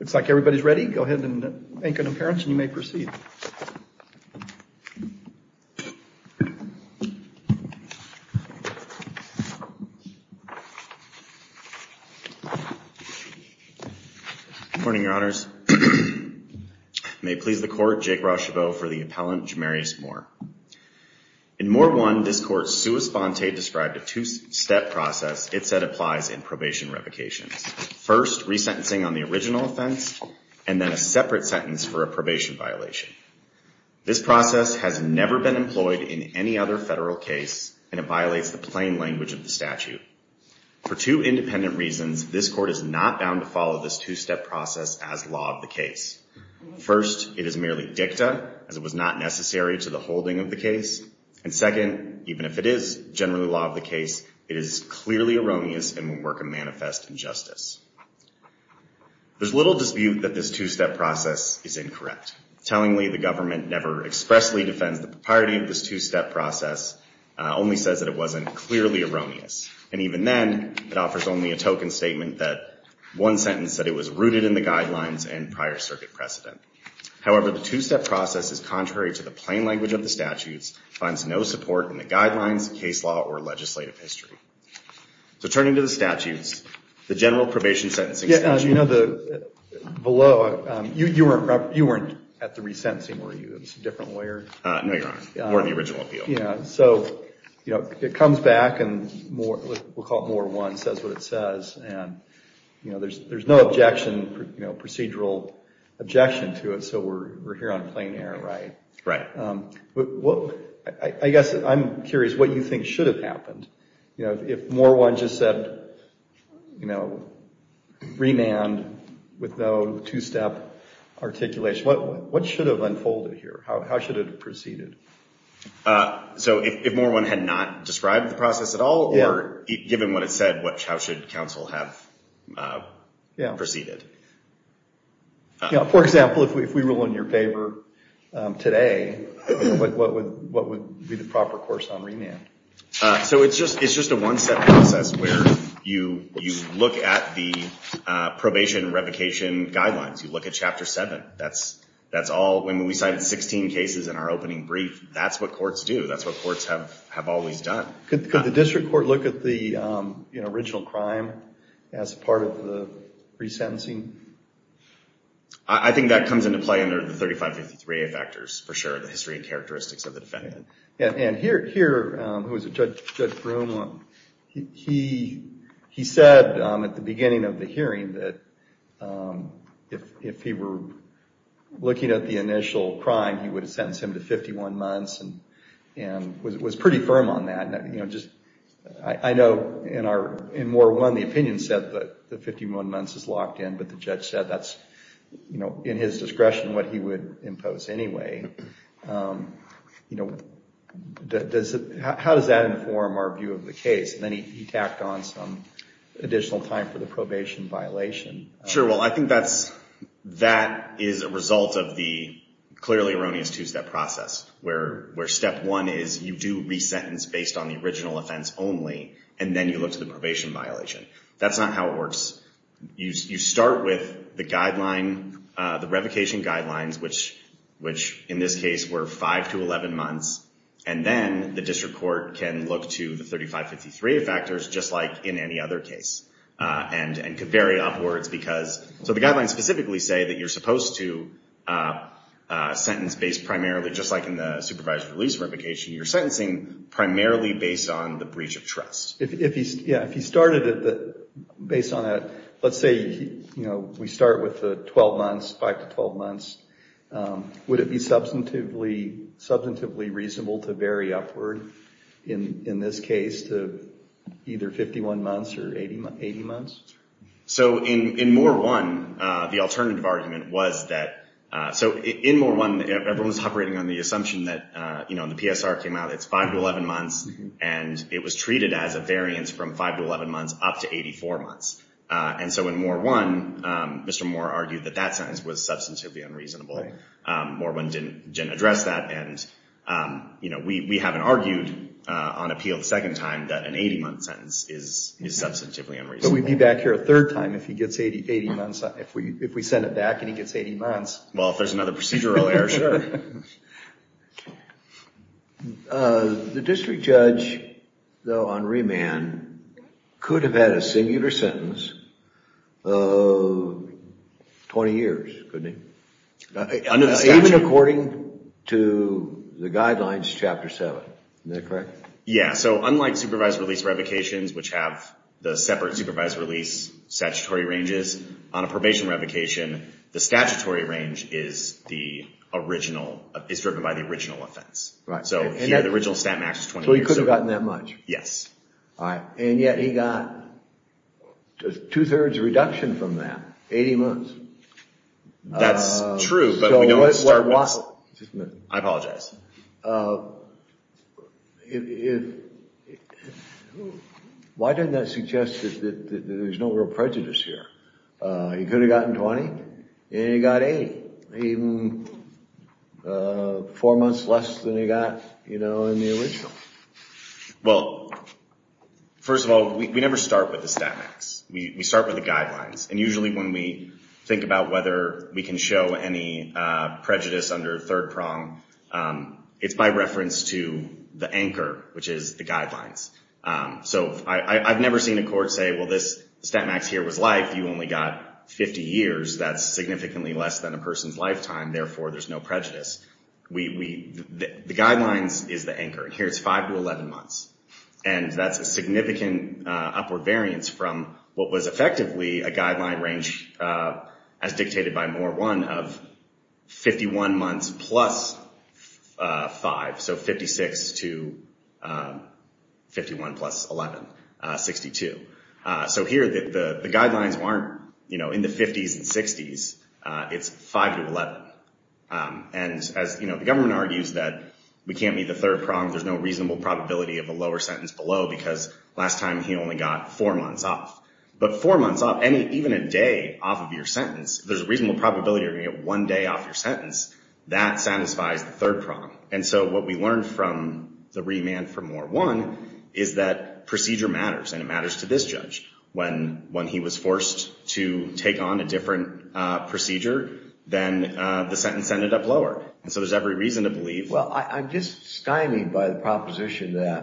looks like everybody's ready go ahead and make an appearance and you may proceed morning your honors may please the court Jake Rochebeau for the appellant Jamarius Moore. In Moore 1 this court's sua sponte described a two-step process it said applies in probation revocations. First resentencing on the original offense and then a separate sentence for a probation violation. This process has never been employed in any other federal case and it violates the plain language of the statute. For two independent reasons this court is not bound to follow this two-step process as law of the case. First it is merely dicta as it was not necessary to the holding of the case and second even if it is generally law of the case it is clearly erroneous and will work a manifest injustice. There's little dispute that this two-step process is incorrect. Tellingly the government never expressly defends the propriety of this two-step process only says that it wasn't clearly erroneous and even then it offers only a token statement that one sentence that it was rooted in the guidelines and prior circuit precedent. However the two-step process is contrary to the plain language of the statutes finds no support in the guidelines case law or legislative history. So turning to the statutes, the general probation sentencing. You know the below, you weren't at the resentencing were you? It's a different lawyer? No your honor, more of the original appeal. Yeah so you know it comes back and more we'll call it more one says what it says and you know there's there's no objection you know procedural objection to it so we're here on plain air right? Right. Well I guess I'm curious what you think should have happened you know if more one just said you know remand with no two-step articulation what what should have unfolded here how should it have proceeded? So if more one had not described the process at all or given what it said what how should counsel have proceeded? Yeah for example if we rule in your favor today what would what would be the proper course on remand? So it's just it's just a one-step process where you you look at the probation revocation guidelines you look at chapter 7 that's that's all when we cited 16 cases in our opening brief that's what courts do that's what courts have have always done. Could the district court look at the you know factors for sure the history and characteristics of the defendant? Yeah and here here was a judge he he said at the beginning of the hearing that if he were looking at the initial crime he would have sentenced him to 51 months and and was it was pretty firm on that you know just I know in our in more one the opinion said that the 51 months is locked in but the judge said that's you know in his discretion what he would impose anyway you know that does it how does that inform our view of the case and then he tacked on some additional time for the probation violation. Sure well I think that's that is a result of the clearly erroneous two-step process where where step one is you do re sentence based on the original offense only and then you look to the probation violation that's not how it works you start with the guideline the revocation guidelines which which in this case were 5 to 11 months and then the district court can look to the 3553 factors just like in any other case and and could vary upwards because so the guidelines specifically say that you're supposed to sentence based primarily just like in the supervised release revocation you're alternative that based on that let's say you know we start with the 12 months 5 to 12 months would it be substantively substantively reasonable to vary upward in in this case to either 51 months or 80 months. So in in more one the alternative argument was that so in more one everyone's operating on the assumption that you know the PSR came out it's 5 to 11 months and it was up to 84 months and so in more one Mr. Moore argued that that sentence was substantively unreasonable more one didn't didn't address that and you know we haven't argued on appeal the second time that an 80 month sentence is substantively unreasonable. So we'd be back here a third time if he gets 80 80 months if we if we send it back and he gets 80 months. Well if there's another procedural error, sure. The district judge though on remand could have had a singular sentence of 20 years, couldn't he? Even according to the guidelines chapter 7, is that correct? Yeah so unlike supervised release revocations which have the separate supervised release statutory ranges on a the original is driven by the original offense. Right. So the original stat max is 20 years. So he could have gotten that much? Yes. All right and yet he got just two-thirds reduction from that, 80 months. That's true but we don't start with... I apologize. Why didn't that suggest that there's no real prejudice here? He could have gotten 20 and he got 80. Even four months less than he got you know in the original. Well first of all we never start with the stat max. We start with the guidelines and usually when we think about whether we can show any prejudice under third prong it's by reference to the anchor which is the guidelines. So I've never seen a court say well this stat max here was life you only got 50 years that's significantly less than a person's lifetime therefore there's no prejudice. The guidelines is the anchor. Here it's 5 to 11 months and that's a significant upward variance from what was effectively a guideline range as So here the guidelines aren't you know in the 50s and 60s it's 5 to 11 and as you know the government argues that we can't meet the third prong there's no reasonable probability of a lower sentence below because last time he only got four months off but four months off any even a day off of your sentence there's a reasonable probability you're gonna get one day off your sentence that satisfies the third prong and so what we learned from the remand for more one is that procedure matters and it matters to this judge when when he was forced to take on a different procedure then the sentence ended up lower and so there's every reason to believe. Well I'm just stymied by the proposition that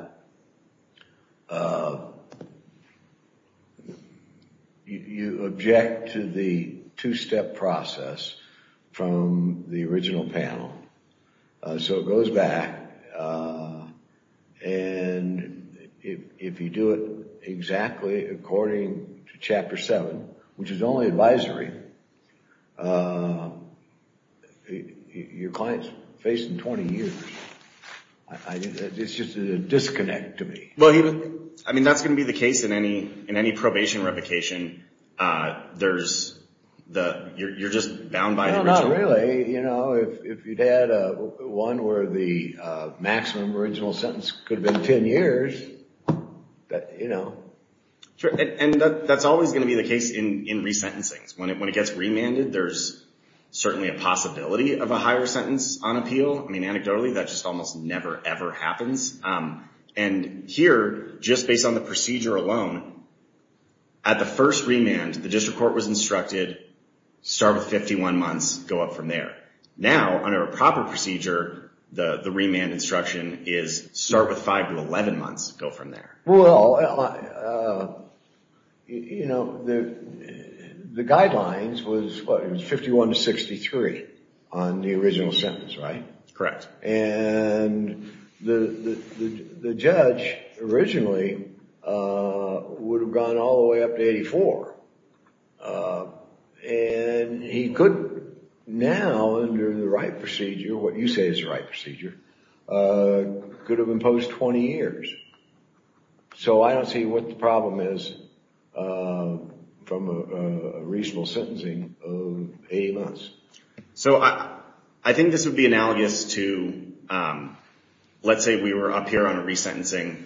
you object to the two-step process from the original panel so it goes back and if you do it exactly according to chapter 7 which is only advisory your clients facing 20 years. It's just a disconnect to me. Well I mean that's going to be the case in resentencing when it when it gets remanded there's certainly a possibility of a higher sentence on appeal I mean anecdotally that just almost never ever happens and here just based on the procedure alone at the first remand the district court was instructed start with 51 months go up from there now under a proper procedure the the remand instruction is start with 5 to 11 months go from there. Well you know the the guidelines was what it was and the the judge originally would have gone all the way up to 84 and he could now under the right procedure what you say is the right procedure could have imposed 20 years so I don't see what the problem is from a reasonable sentencing of a month. So I I think this would be analogous to let's say we were up here on a resentencing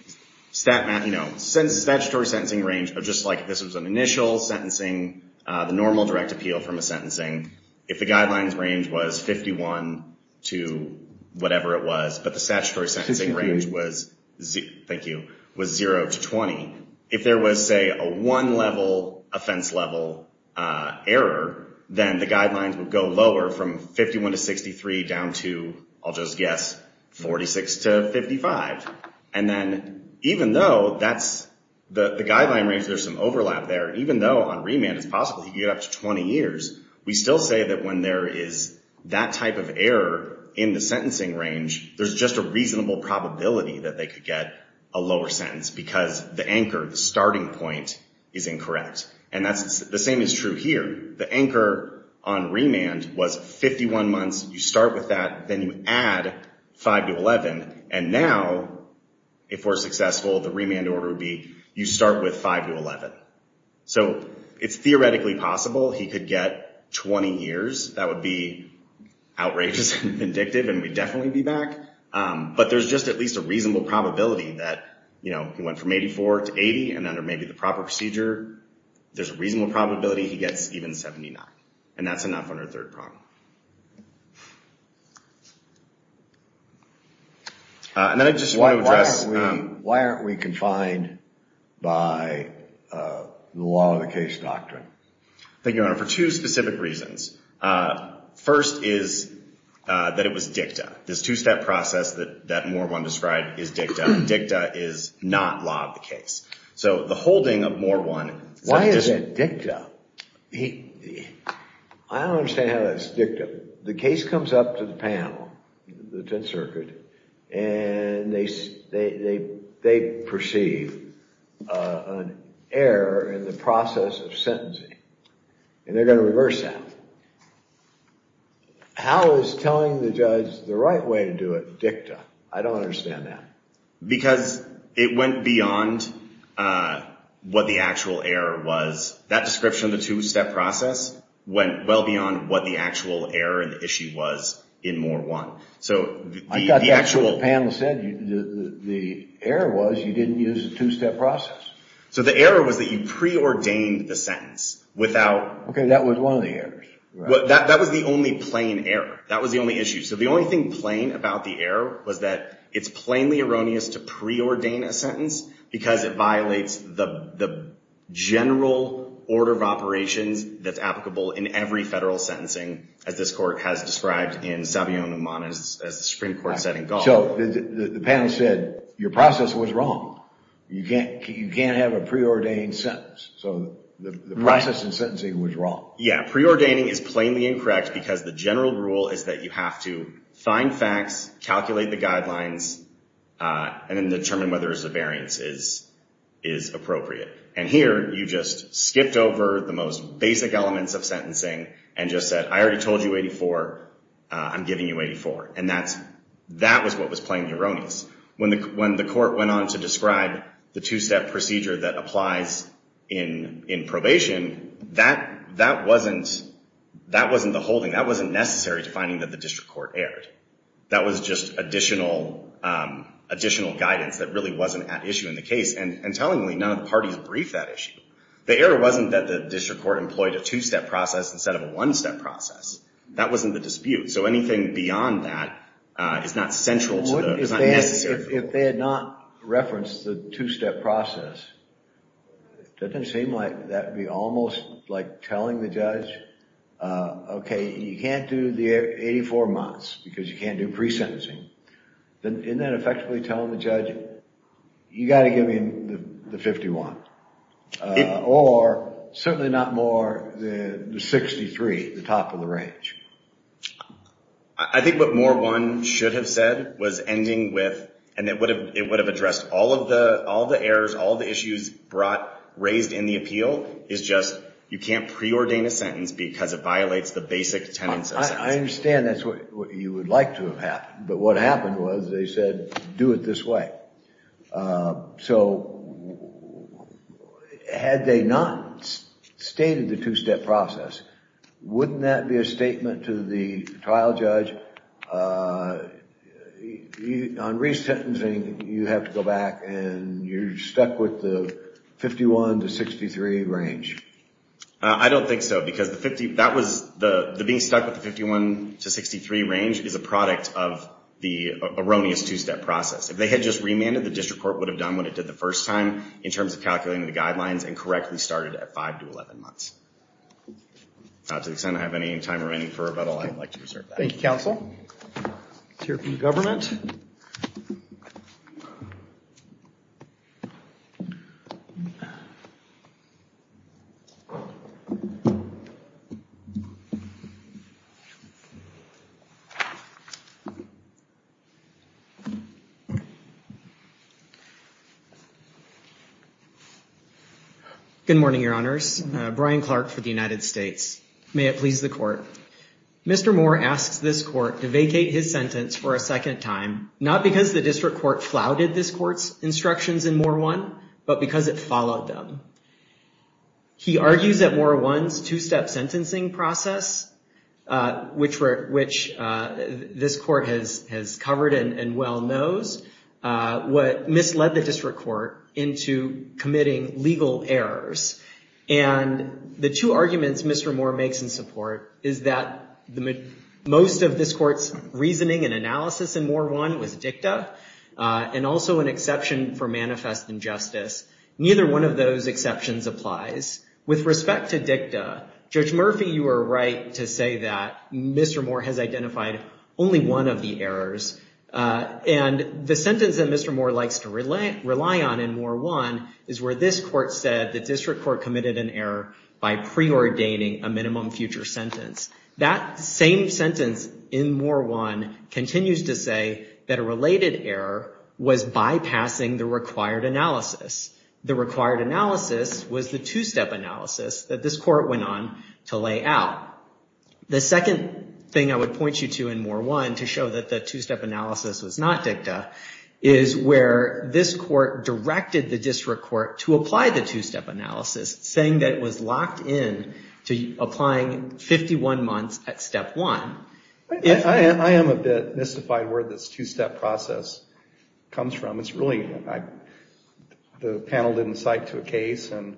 stat mat you know since statutory sentencing range but just like this was an initial sentencing the normal direct appeal from a sentencing if the guidelines range was 51 to whatever it was but the statutory sentencing range was thank you was 0 to 20 if there was say a one level offense level error then the guidelines would go lower from 51 to 63 down to I'll just guess 46 to 55 and then even though that's the the guideline range there's some overlap there even though on remand it's possible you get up to 20 years we still say that when there is that type of error in the sentencing range there's just a reasonable probability that they could get a lower sentence because the same is true here the anchor on remand was 51 months you start with that then you add 5 to 11 and now if we're successful the remand order would be you start with 5 to 11 so it's theoretically possible he could get 20 years that would be outrageous and vindictive and we definitely be back but there's just at least a reasonable probability that you know he went from 84 to 80 and there's a reasonable probability he gets even 79 and that's enough on our third problem and then I just want to address why aren't we confined by the law of the case doctrine thank you honor for two specific reasons first is that it was dicta this two-step process that that more one described is dicta dicta is not law of the case so the holding of more one why is it dicta he I don't understand how that's dictum the case comes up to the panel the 10th Circuit and they they they perceive an error in the process of sentencing and they're going to reverse that how is telling the judge the right way to do it dicta I it went beyond what the actual error was that description the two-step process went well beyond what the actual error and the issue was in more one so I got the actual panel said the error was you didn't use a two-step process so the error was that you preordained the sentence without okay that was one of the errors what that was the only plain error that was the only issue so the only thing plain about the error was that it's plainly erroneous to pre-ordain a sentence because it violates the the general order of operations that's applicable in every federal sentencing as this court has described in Savio and Amana's as the Supreme Court said and go so the panel said your process was wrong you can't you can't have a preordained sentence so the process and sentencing was wrong yeah preordaining is plainly incorrect because the general rule is that you have to find facts calculate the whether the variance is is appropriate and here you just skipped over the most basic elements of sentencing and just said I already told you 84 I'm giving you 84 and that's that was what was playing the erroneous when the when the court went on to describe the two-step procedure that applies in in probation that that wasn't that wasn't the holding that wasn't necessary to finding that the district court aired that was just additional additional guidance that really wasn't at issue in the case and and tellingly none of the parties brief that issue the error wasn't that the district court employed a two-step process instead of a one-step process that wasn't the dispute so anything beyond that is not central if they had not referenced the two-step process doesn't seem like that be almost like telling the judge okay you can't do the 84 months because you can't do pre sentencing then in that effectively telling the judge you got to give me the 51 or certainly not more than the 63 the top of the range I think what more one should have said was ending with and it would have it would have addressed all of the all the errors all the issues brought raised in the appeal is just you can't preordain a sentence because it that's what you would like to have happened but what happened was they said do it this way so had they not stated the two-step process wouldn't that be a statement to the trial judge on resentencing you have to go back and you're stuck with the 51 to 63 range I don't think so because the 50 that was the being stuck with the 51 to 63 range is a product of the erroneous two-step process if they had just remanded the district court would have done what it did the first time in terms of calculating the guidelines and correctly started at 5 to 11 months not to the extent I have any time remaining for questions good morning your honors Brian Clark for the United States may it please the court mr. Moore asks this court to vacate his sentence for a second time not because the district court flouted this courts instructions in more one but because it followed them he argues that more ones two-step sentencing process which were which this court has has covered and well knows what misled the district court into committing legal errors and the two arguments mr. Moore makes in support is that the most of this courts reasoning and analysis and more one was dicta and also an exception for manifest injustice neither one of those exceptions applies with respect to dicta judge Murphy you were right to say that mr. Moore has identified only one of the errors and the sentence that mr. Moore likes to relate rely on in more one is where this court said the district court committed an error by pre-ordaining a minimum future sentence that same sentence in more one continues to say that a related error was bypassing the required analysis the required analysis was the two-step analysis that this court went on to lay out the second thing I would point you to in more one to show that the two-step analysis was not dicta is where this court directed the district court to apply the two-step analysis saying that was locked in to applying 51 months at step one I am a bit mystified where this two-step process comes from it's really the panel didn't cite to a case and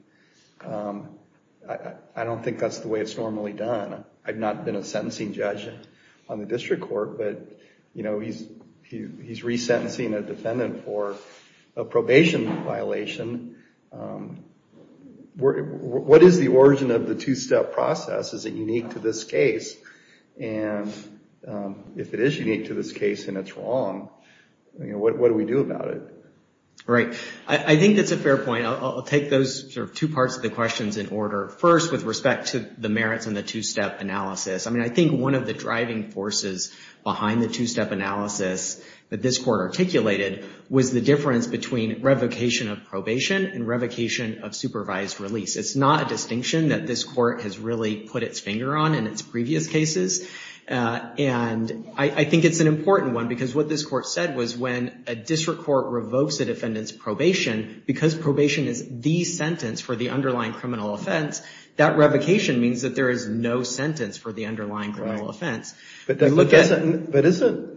I don't think that's the way it's normally done I've not been a sentencing judge on the district court but you know he's he's resentencing a defendant for a probation violation what is the origin of the two-step process is it unique to this case and if it is unique to this case and it's wrong you know what do we do about it right I think that's a fair point I'll take those sort of two parts of the questions in order first with respect to the merits and the two-step analysis I mean I think one of the driving forces behind the two-step analysis that this court articulated was the difference between revocation of probation and revocation of supervised release it's not a distinction that this court has really put its finger on in its previous cases and I think it's an important one because what this court said was when a district court revokes a defendant's probation because probation is the sentence for the underlying criminal offense that revocation means that there is no sentence for the underlying criminal offense but then look at it but isn't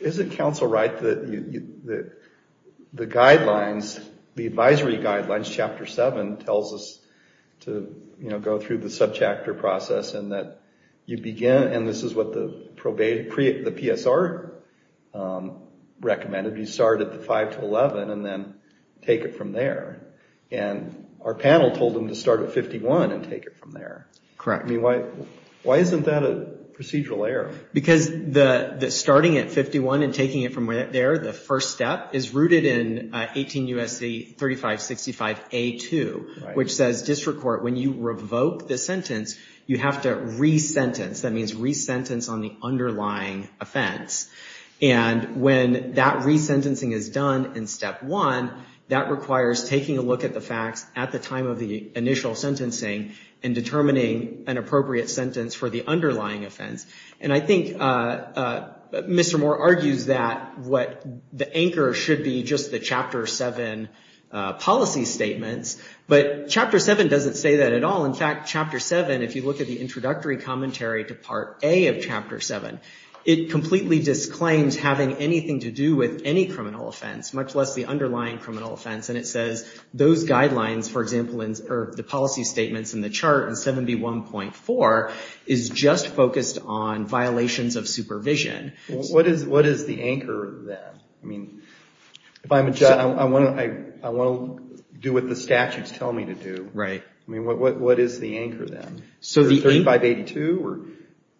is it counsel right that the guidelines the advisory guidelines chapter 7 tells us to you know go through the subchapter process and that you begin and this is what the probate create the PSR recommended you start at the 5 to 11 and then take it from there and our panel told them to start at 51 and take it from there correct me why why isn't that a procedural error because the starting at 51 and taking it from where they're the first step is rooted in 18 USC 3565 a2 which says district court when you revoke the sentence you have to re-sentence that means re-sentence on the underlying offense and when that re-sentencing is done in step one that requires taking a look at the facts at the time of the initial sentencing and determining an appropriate sentence for the underlying offense and I think Mr. Moore argues that what the anchor should be just the chapter 7 policy statements but chapter 7 doesn't say that at all in fact chapter 7 if you look at the introductory commentary to part a of chapter 7 it completely disclaims having anything to do with any criminal offense much less the underlying criminal offense and it says those guidelines for example in the policy statements in the chart and 71.4 is just focused on violations of what is the anchor that I mean if I'm a judge I want to I won't do what the statutes tell me to do right I mean what is the anchor then so the 8582 or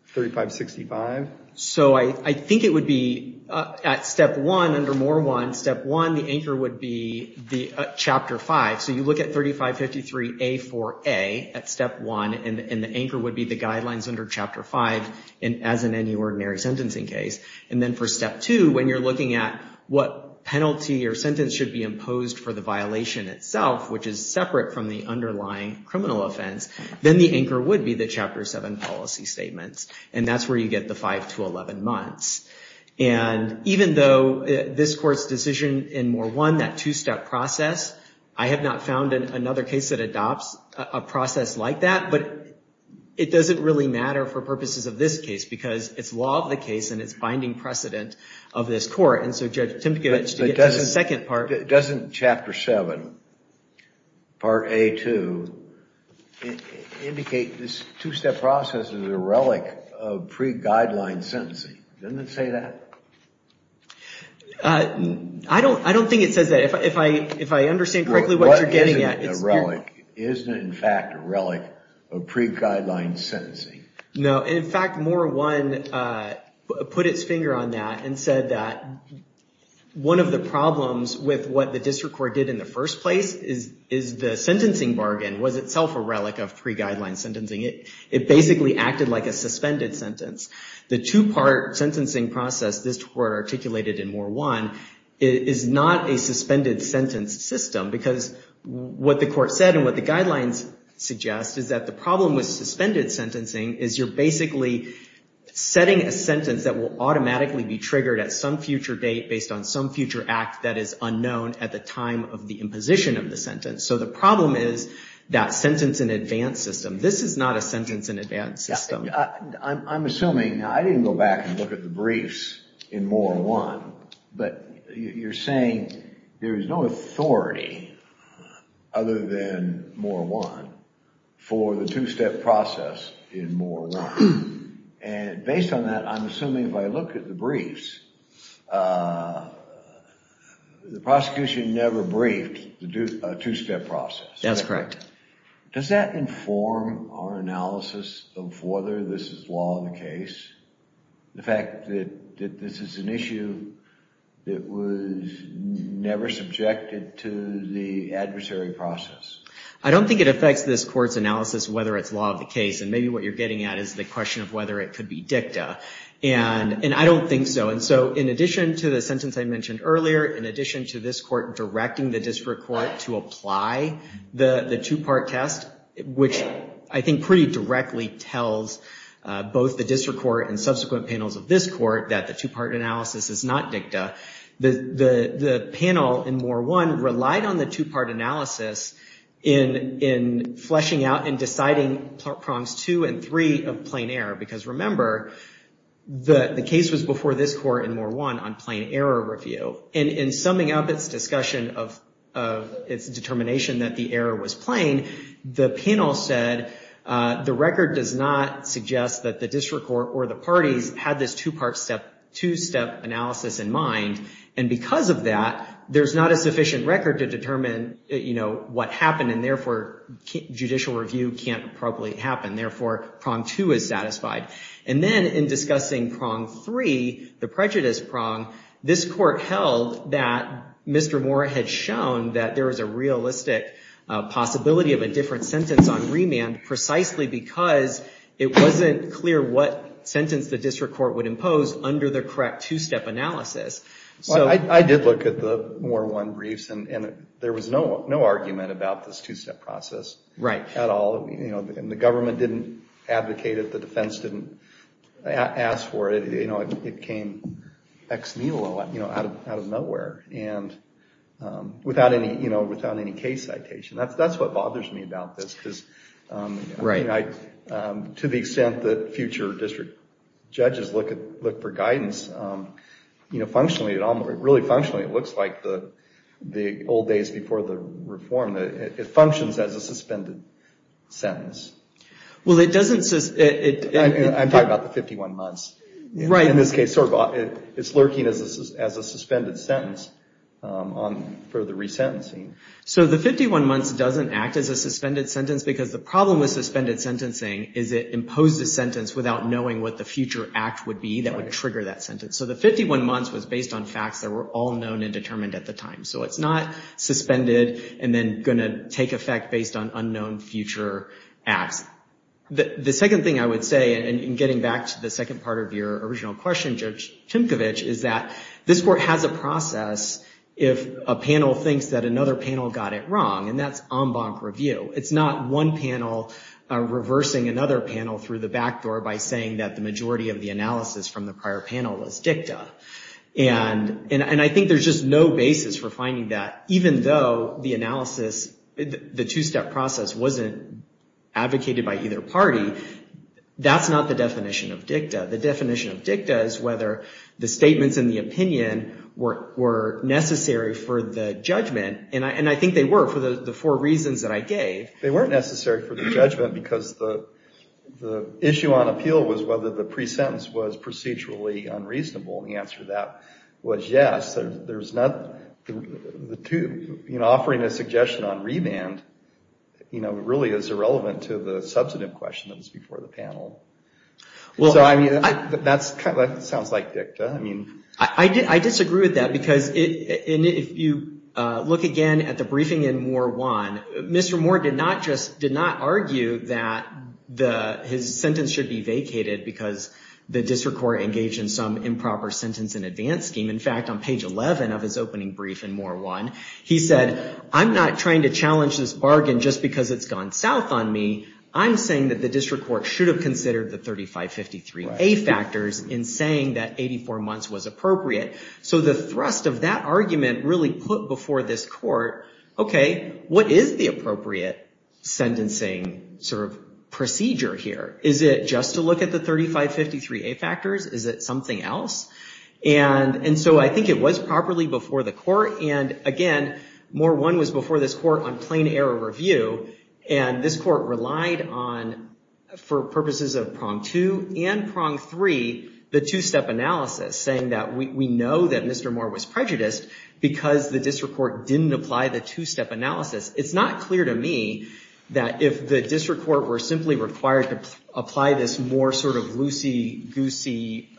3565 so I think it would be at step one under more one step one the anchor would be the chapter 5 so you look at 3553 a4a at step 1 and the anchor would be the guidelines under chapter 5 and as in any ordinary sentencing case and then for step 2 when you're looking at what penalty or sentence should be imposed for the violation itself which is separate from the underlying criminal offense then the anchor would be the chapter 7 policy statements and that's where you get the 5 to 11 months and even though this court's decision in more one that two-step process I have not found in another case that adopts a process like that but it doesn't really matter for the case and it's binding precedent of this court and so judge Tim to get a second part it doesn't chapter 7 part a to indicate this two-step process is a relic of pre-guideline sentencing doesn't say that I don't I don't think it says that if I if I understand correctly what you're getting at it's relic isn't in fact a relic of pre-guideline sentencing no in fact more one put its finger on that and said that one of the problems with what the district court did in the first place is is the sentencing bargain was itself a relic of pre-guideline sentencing it it basically acted like a suspended sentence the two-part sentencing process this were articulated in more one it is not a suspended sentence system because what the court said and what the guidelines suggest is that the problem with suspended sentencing is you're basically setting a sentence that will automatically be triggered at some future date based on some future act that is unknown at the time of the imposition of the sentence so the problem is that sentence in advance system this is not a sentence in advance system I'm assuming I didn't go back and look at the briefs in more one but you're saying there is no authority other than more one for the two-step process in more one and based on that I'm assuming if I look at the briefs the prosecution never briefed to do a two-step process that's correct does that inform our analysis of whether this is law in the case the fact that this is an issue that was never subjected to the adversary process I don't think it affects this court's analysis whether it's law of the case and maybe what you're getting at is the question of whether it could be dicta and and I don't think so and so in addition to the sentence I mentioned earlier in addition to this court directing the district court to apply the the two-part test which I think pretty directly tells both the district court and subsequent panels of this court that the two-part analysis is not dicta the the panel in more one relied on the two-part analysis in in fleshing out and deciding prongs two and three of plain error because remember the the case was before this court in more one on plain error review and in summing up its discussion of its determination that the error was plain the panel said the record does not suggest that the district court or the district court had a two-part analysis in mind and because of that there's not a sufficient record to determine you know what happened and therefore judicial review can't properly happen therefore prong two is satisfied and then in discussing prong three the prejudice prong this court held that mr. Moore had shown that there is a realistic possibility of a different sentence on remand precisely because it wasn't clear what sentence the district court would have on the two-part analysis so I did look at the more one briefs and there was no no argument about this two-step process right at all you know and the government didn't advocate it the defense didn't ask for it you know it came ex milo you know out of nowhere and without any you know without any case citation that's that's what bothers me about this because right I to the extent future district judges look at look for guidance you know functionally at all really functionally it looks like the the old days before the reform that it functions as a suspended sentence well it doesn't says it I'm talking about the 51 months right in this case sort of it it's lurking as a suspended sentence on for the resentencing so the 51 months doesn't act as a suspended sentence because the problem with suspended sentencing is it imposed a sentence without knowing what the future act would be that would trigger that sentence so the 51 months was based on facts that were all known and determined at the time so it's not suspended and then going to take effect based on unknown future acts the the second thing I would say and getting back to the second part of your original question judge Tinkovich is that this court has a process if a panel thinks that another panel got it wrong and that's en banc review it's not one panel reversing another panel through the back door by saying that the majority of the analysis from the prior panel was dicta and and I think there's just no basis for finding that even though the analysis the two step process wasn't advocated by either party that's not the definition of dicta the definition of dicta is whether the statements in the opinion were necessary for the judgment and I and I think they were for the four reasons that I gave they weren't necessary for the judgment because the the issue on appeal was whether the pre-sentence was procedurally unreasonable the answer that was yes there's not the tube you know offering a suggestion on revamped you know really is irrelevant to the substantive question that was before the panel well I mean that's kind of sounds like dicta I mean I did I disagree with that because it if you look again at the briefing in more one mr. Morgan not just did not argue that the his sentence should be vacated because the district court engaged in some improper sentence in advance scheme in fact on page 11 of his opening brief and more one he said I'm not trying to challenge this bargain just because it's gone south on me I'm saying that the district court should have considered the 3553 a factors in saying that 84 months was appropriate so the thrust of that argument really put before this court okay what is the appropriate sentencing sort of procedure here is it just to look at the 3553 a factors is it something else and and so I think it was properly before the court and again more one was before this court on plain error review and this court relied on for purposes of prong two and prong three the two-step analysis saying that we know that mr. Moore was prejudiced because the district court didn't apply the two-step analysis it's not clear to me that if the district court were simply required to apply this more sort of loosey-goosey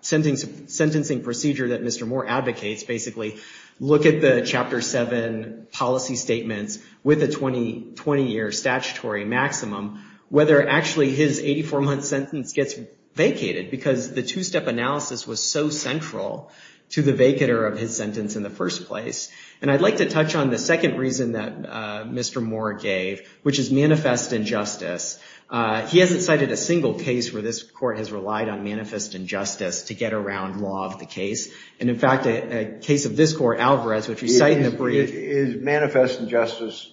sentence sentencing procedure that mr. Moore advocates basically look at the chapter 7 policy statements with a 20 20 year statutory maximum whether actually his 84 month sentence gets vacated because the two-step analysis was so central to the vacator of his sentence in the first place and I'd like to touch on the second reason that mr. Moore gave which is manifest injustice he hasn't cited a single case where this court has relied on manifest injustice to get around law of the case and in fact a case of this court Alvarez which you cite in the manifest injustice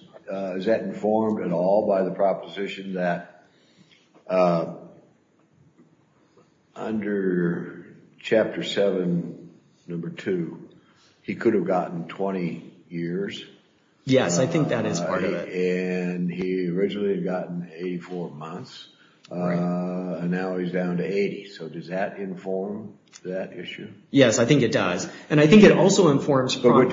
is that informed at all by the proposition that under chapter 7 number 2 he could have gotten 20 years yes I think that is and he originally had gotten 84 months and now he's down to 80 so does that inform that issue yes I think it does and I think it also informs but you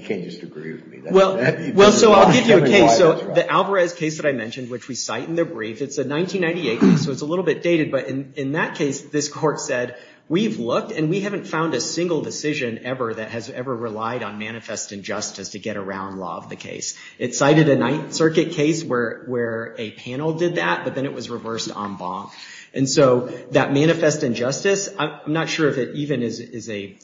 can't just agree with me well well so I'll give you a case so the Alvarez case that I mentioned which we cite in the brief it's a 1998 so it's a little bit dated but in in that case this court said we've looked and we haven't found a single decision ever that has ever relied on manifest injustice to get around law of the case it cited a Ninth Circuit case where where a panel did that but then it was not sure if it even is a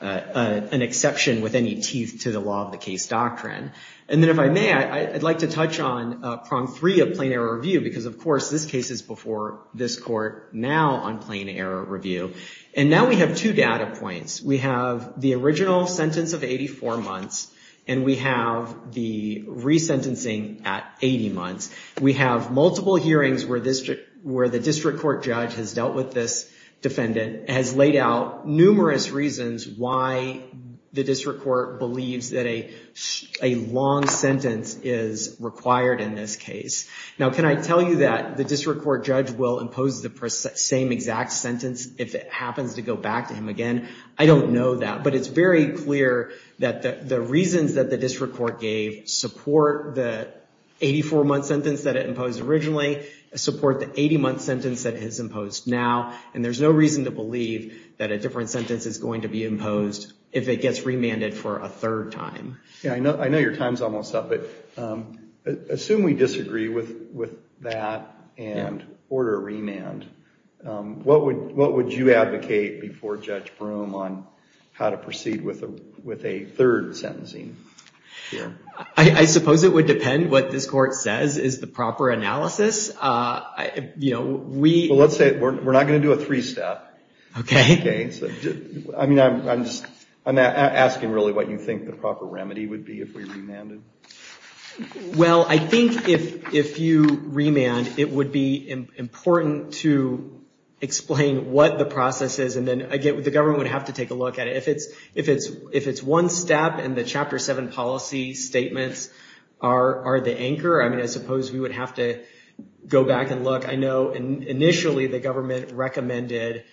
an exception with any teeth to the law of the case doctrine and then if I may I'd like to touch on prong three of plain error review because of course this case is before this court now on plain error review and now we have two data points we have the original sentence of 84 months and we have the resentencing at 80 months we have multiple hearings where where the district court judge has dealt with this defendant has laid out numerous reasons why the district court believes that a long sentence is required in this case now can I tell you that the district court judge will impose the same exact sentence if it happens to go back to him again I don't know that but it's very clear that the reasons that the district court gave support the 84 month sentence that it imposed originally support the 80 month sentence that has imposed now and there's no reason to believe that a different sentence is going to be imposed if it gets remanded for a third time yeah I know I know your time's almost up but assume we disagree with with that and order remand what would what would you advocate before judge on how to proceed with with a third sentencing I suppose it would depend what this court says is the proper analysis I you know we let's say we're not going to do a three-step okay okay I mean I'm just I'm asking really what you think the proper remedy would be if we remanded well I think if if you remand it would be important to explain what the process is and then I get with the government would have to take a look at it if it's if it's if it's one step and the chapter 7 policy statements are the anchor I mean I suppose we would have to go back and look I know and initially the government recommended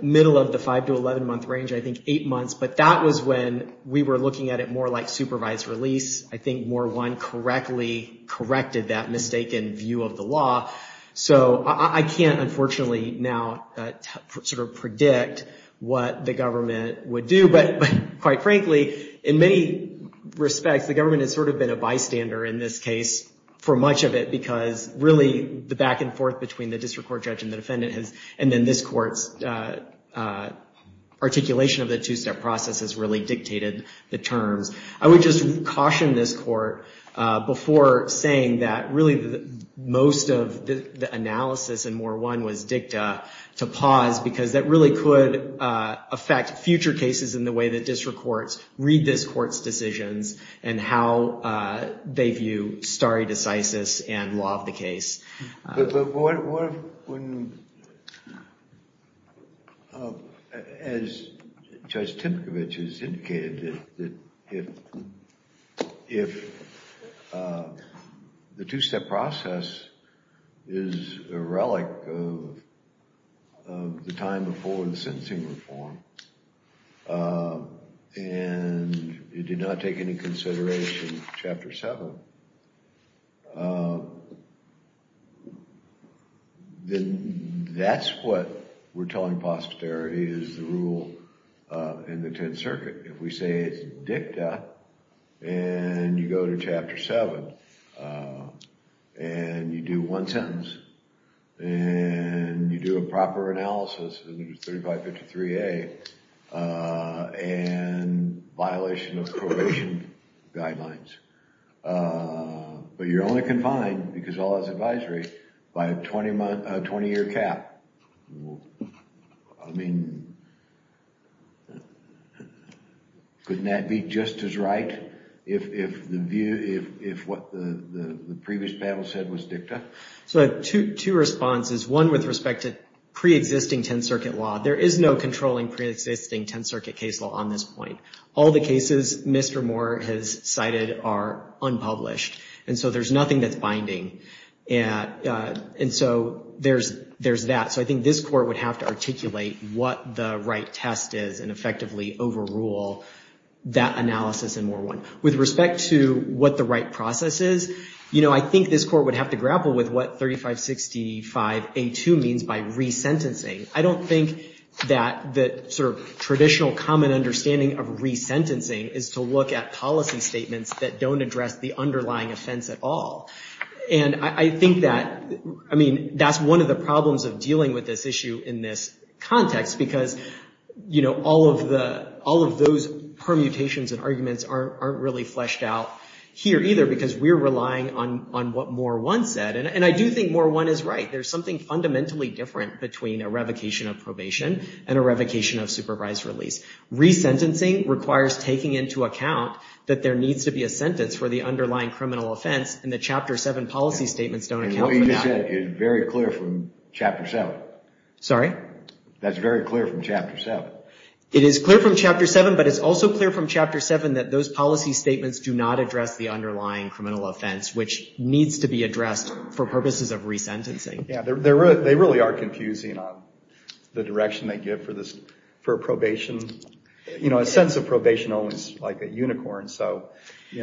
middle of the 5 to 11 month range I think eight months but that was when we were looking at it more like supervised release I think more one correctly corrected that mistaken view of the law so I can't unfortunately now sort of predict what the government would do but quite frankly in many respects the government has sort of been a bystander in this case for much of it because really the back-and-forth between the district court judge and the defendant has and then this courts articulation of the two-step process has really dictated the terms I would just caution this court before saying that really most of the analysis and more one was dicta to pause because that really could affect future cases in the way that district courts read this courts decisions and how they view stare decisis and law of the case as judge Timkovich is indicated that if if the two-step process is a relic of the time before the sentencing reform and it did not take any consideration chapter 7 then that's what we're telling posterity is the rule in the Tenth Circuit if we say it's dicta and you go to chapter 7 and you do one sentence and you do a proper analysis 3553 a and violation of probation guidelines but you're only confined because all that's advisory by a 20-month 20-year cap I mean couldn't that be just as right if the view if what the previous panel said was dicta so two responses one with respect to pre-existing Tenth Circuit law there is no controlling pre-existing Tenth Circuit case law on this point all the cases mr. Moore has cited are unpublished and so there's nothing that's binding and and so there's there's that so I think this court would have to articulate what the right test is and effectively overrule that analysis and more one with respect to what the right process is you know I think this court would have to grapple with what 3565 a to means by resentencing I don't think that the sort of traditional common understanding of resentencing is to look at policy statements that don't address the and I think that I mean that's one of the problems of dealing with this issue in this context because you know all of the all of those permutations and arguments aren't really fleshed out here either because we're relying on on what more one said and I do think more one is right there's something fundamentally different between a revocation of probation and a revocation of supervised release resentencing requires taking into account that there needs to be a sentence for the underlying criminal offense and the chapter 7 policy statements don't know you said is very clear from chapter 7 sorry that's very clear from chapter 7 it is clear from chapter 7 but it's also clear from chapter 7 that those policy statements do not address the underlying criminal offense which needs to be addressed for purposes of resentencing yeah they're there they really are confusing on the direction they give for this for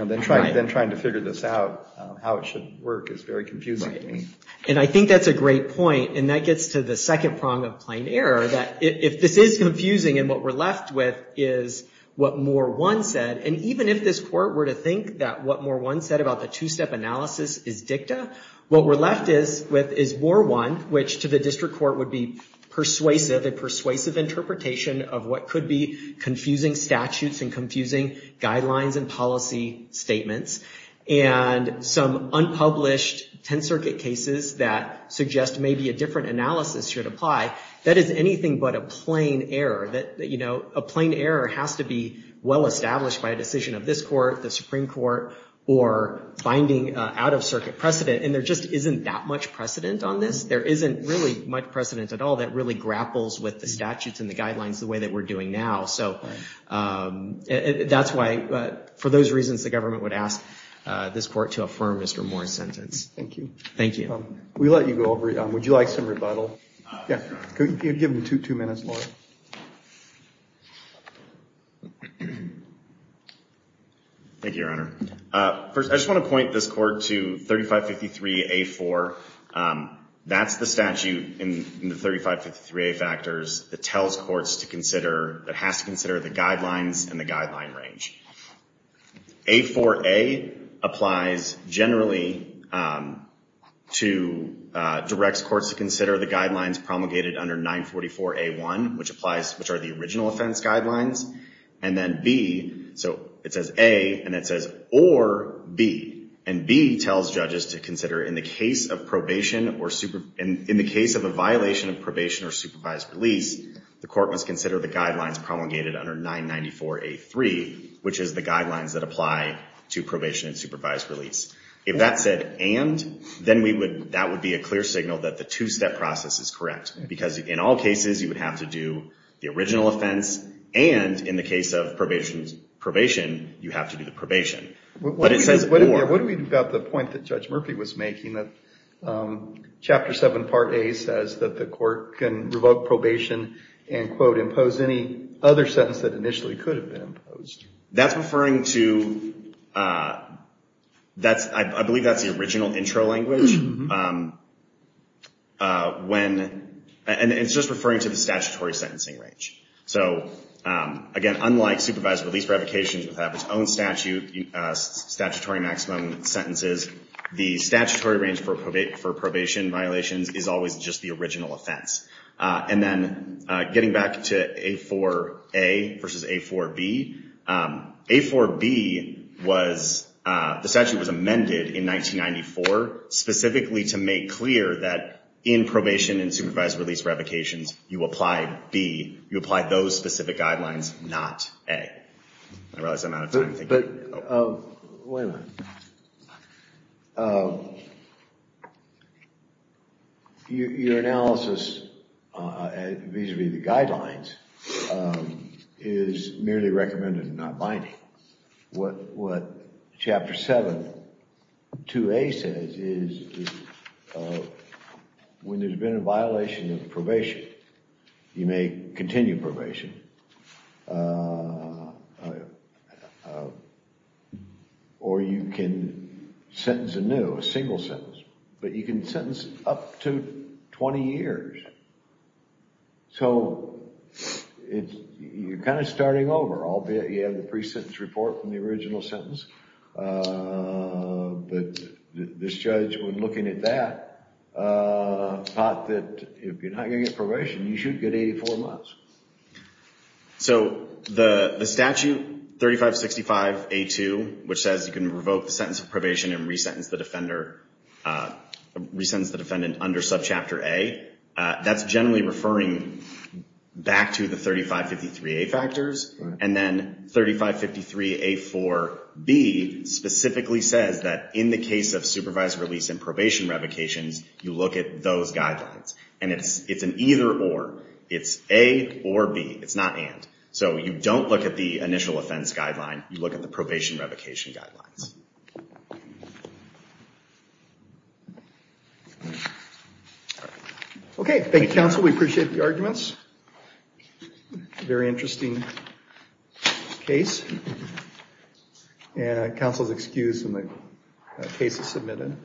then trying to figure this out how it should work is very confusing and I think that's a great point and that gets to the second prong of plain error that if this is confusing and what we're left with is what more one said and even if this court were to think that what more one said about the two-step analysis is dicta what we're left is with is more one which to the district court would be persuasive a persuasive interpretation of what could be confusing statutes and statements and some unpublished 10th Circuit cases that suggest maybe a different analysis should apply that is anything but a plain error that you know a plain error has to be well established by a decision of this court the Supreme Court or finding out-of-circuit precedent and there just isn't that much precedent on this there isn't really much precedent at all that really grapples with the statutes and the guidelines the way that we're doing now so that's why but for those reasons the government would ask this court to affirm mr. Moore's sentence thank you thank you we let you go over it would you like some rebuttal yeah you'd give them two minutes more thank you your honor first I just want to point this court to 3553 a4 that's the statute in the 3553 a factors that tells courts to consider that has to consider the guidelines and the guideline range a4 a applies generally to directs courts to consider the guidelines promulgated under 944 a1 which applies which are the original offense guidelines and then B so it says a and it says or B and B tells judges to consider in the case of probation or super and in the case of a violation of probation or supervised release the court must consider the guidelines promulgated under 994 a3 which is the guidelines that apply to probation and supervised release if that said and then we would that would be a clear signal that the two-step process is correct because in all cases you would have to do the original offense and in the case of probation's probation you have to do the probation what it says what do we've got the point that judge Murphy was making that chapter 7 part a says that the court can revoke probation and quote impose any other sentence that initially could have been imposed that's referring to that's I believe that's the original intro language when and it's just referring to the statutory sentencing range so again unlike supervised release revocations would have its own statute statutory maximum sentences the statutory range for probation for probation violations is always just the original offense and then getting back to a for a versus a for B a for B was the statute was amended in 1994 specifically to make clear that in probation and supervised release revocations you apply B you realize I'm out of time. Wait a minute. Your analysis vis-a-vis the guidelines is merely recommended not binding what what chapter 7 2a says is when there's been a or you can sentence anew a single sentence but you can sentence up to 20 years so it's you're kind of starting over albeit you have the pre-sentence report from the original sentence but this judge when looking at that thought that if you're not gonna get probation you should get 84 months. So the the statute 3565 a2 which says you can revoke the sentence of probation and resentence the defender resents the defendant under subchapter a that's generally referring back to the 3553 a factors and then 3553 a for B specifically says that in the case of supervised release and probation revocations you look at those guidelines and it's it's an either or it's a or B it's not and so you don't look at the initial offense guideline you look at the probation revocation guidelines. Okay thank you counsel we appreciate the arguments very interesting case and counsel's excuse The case is submitted.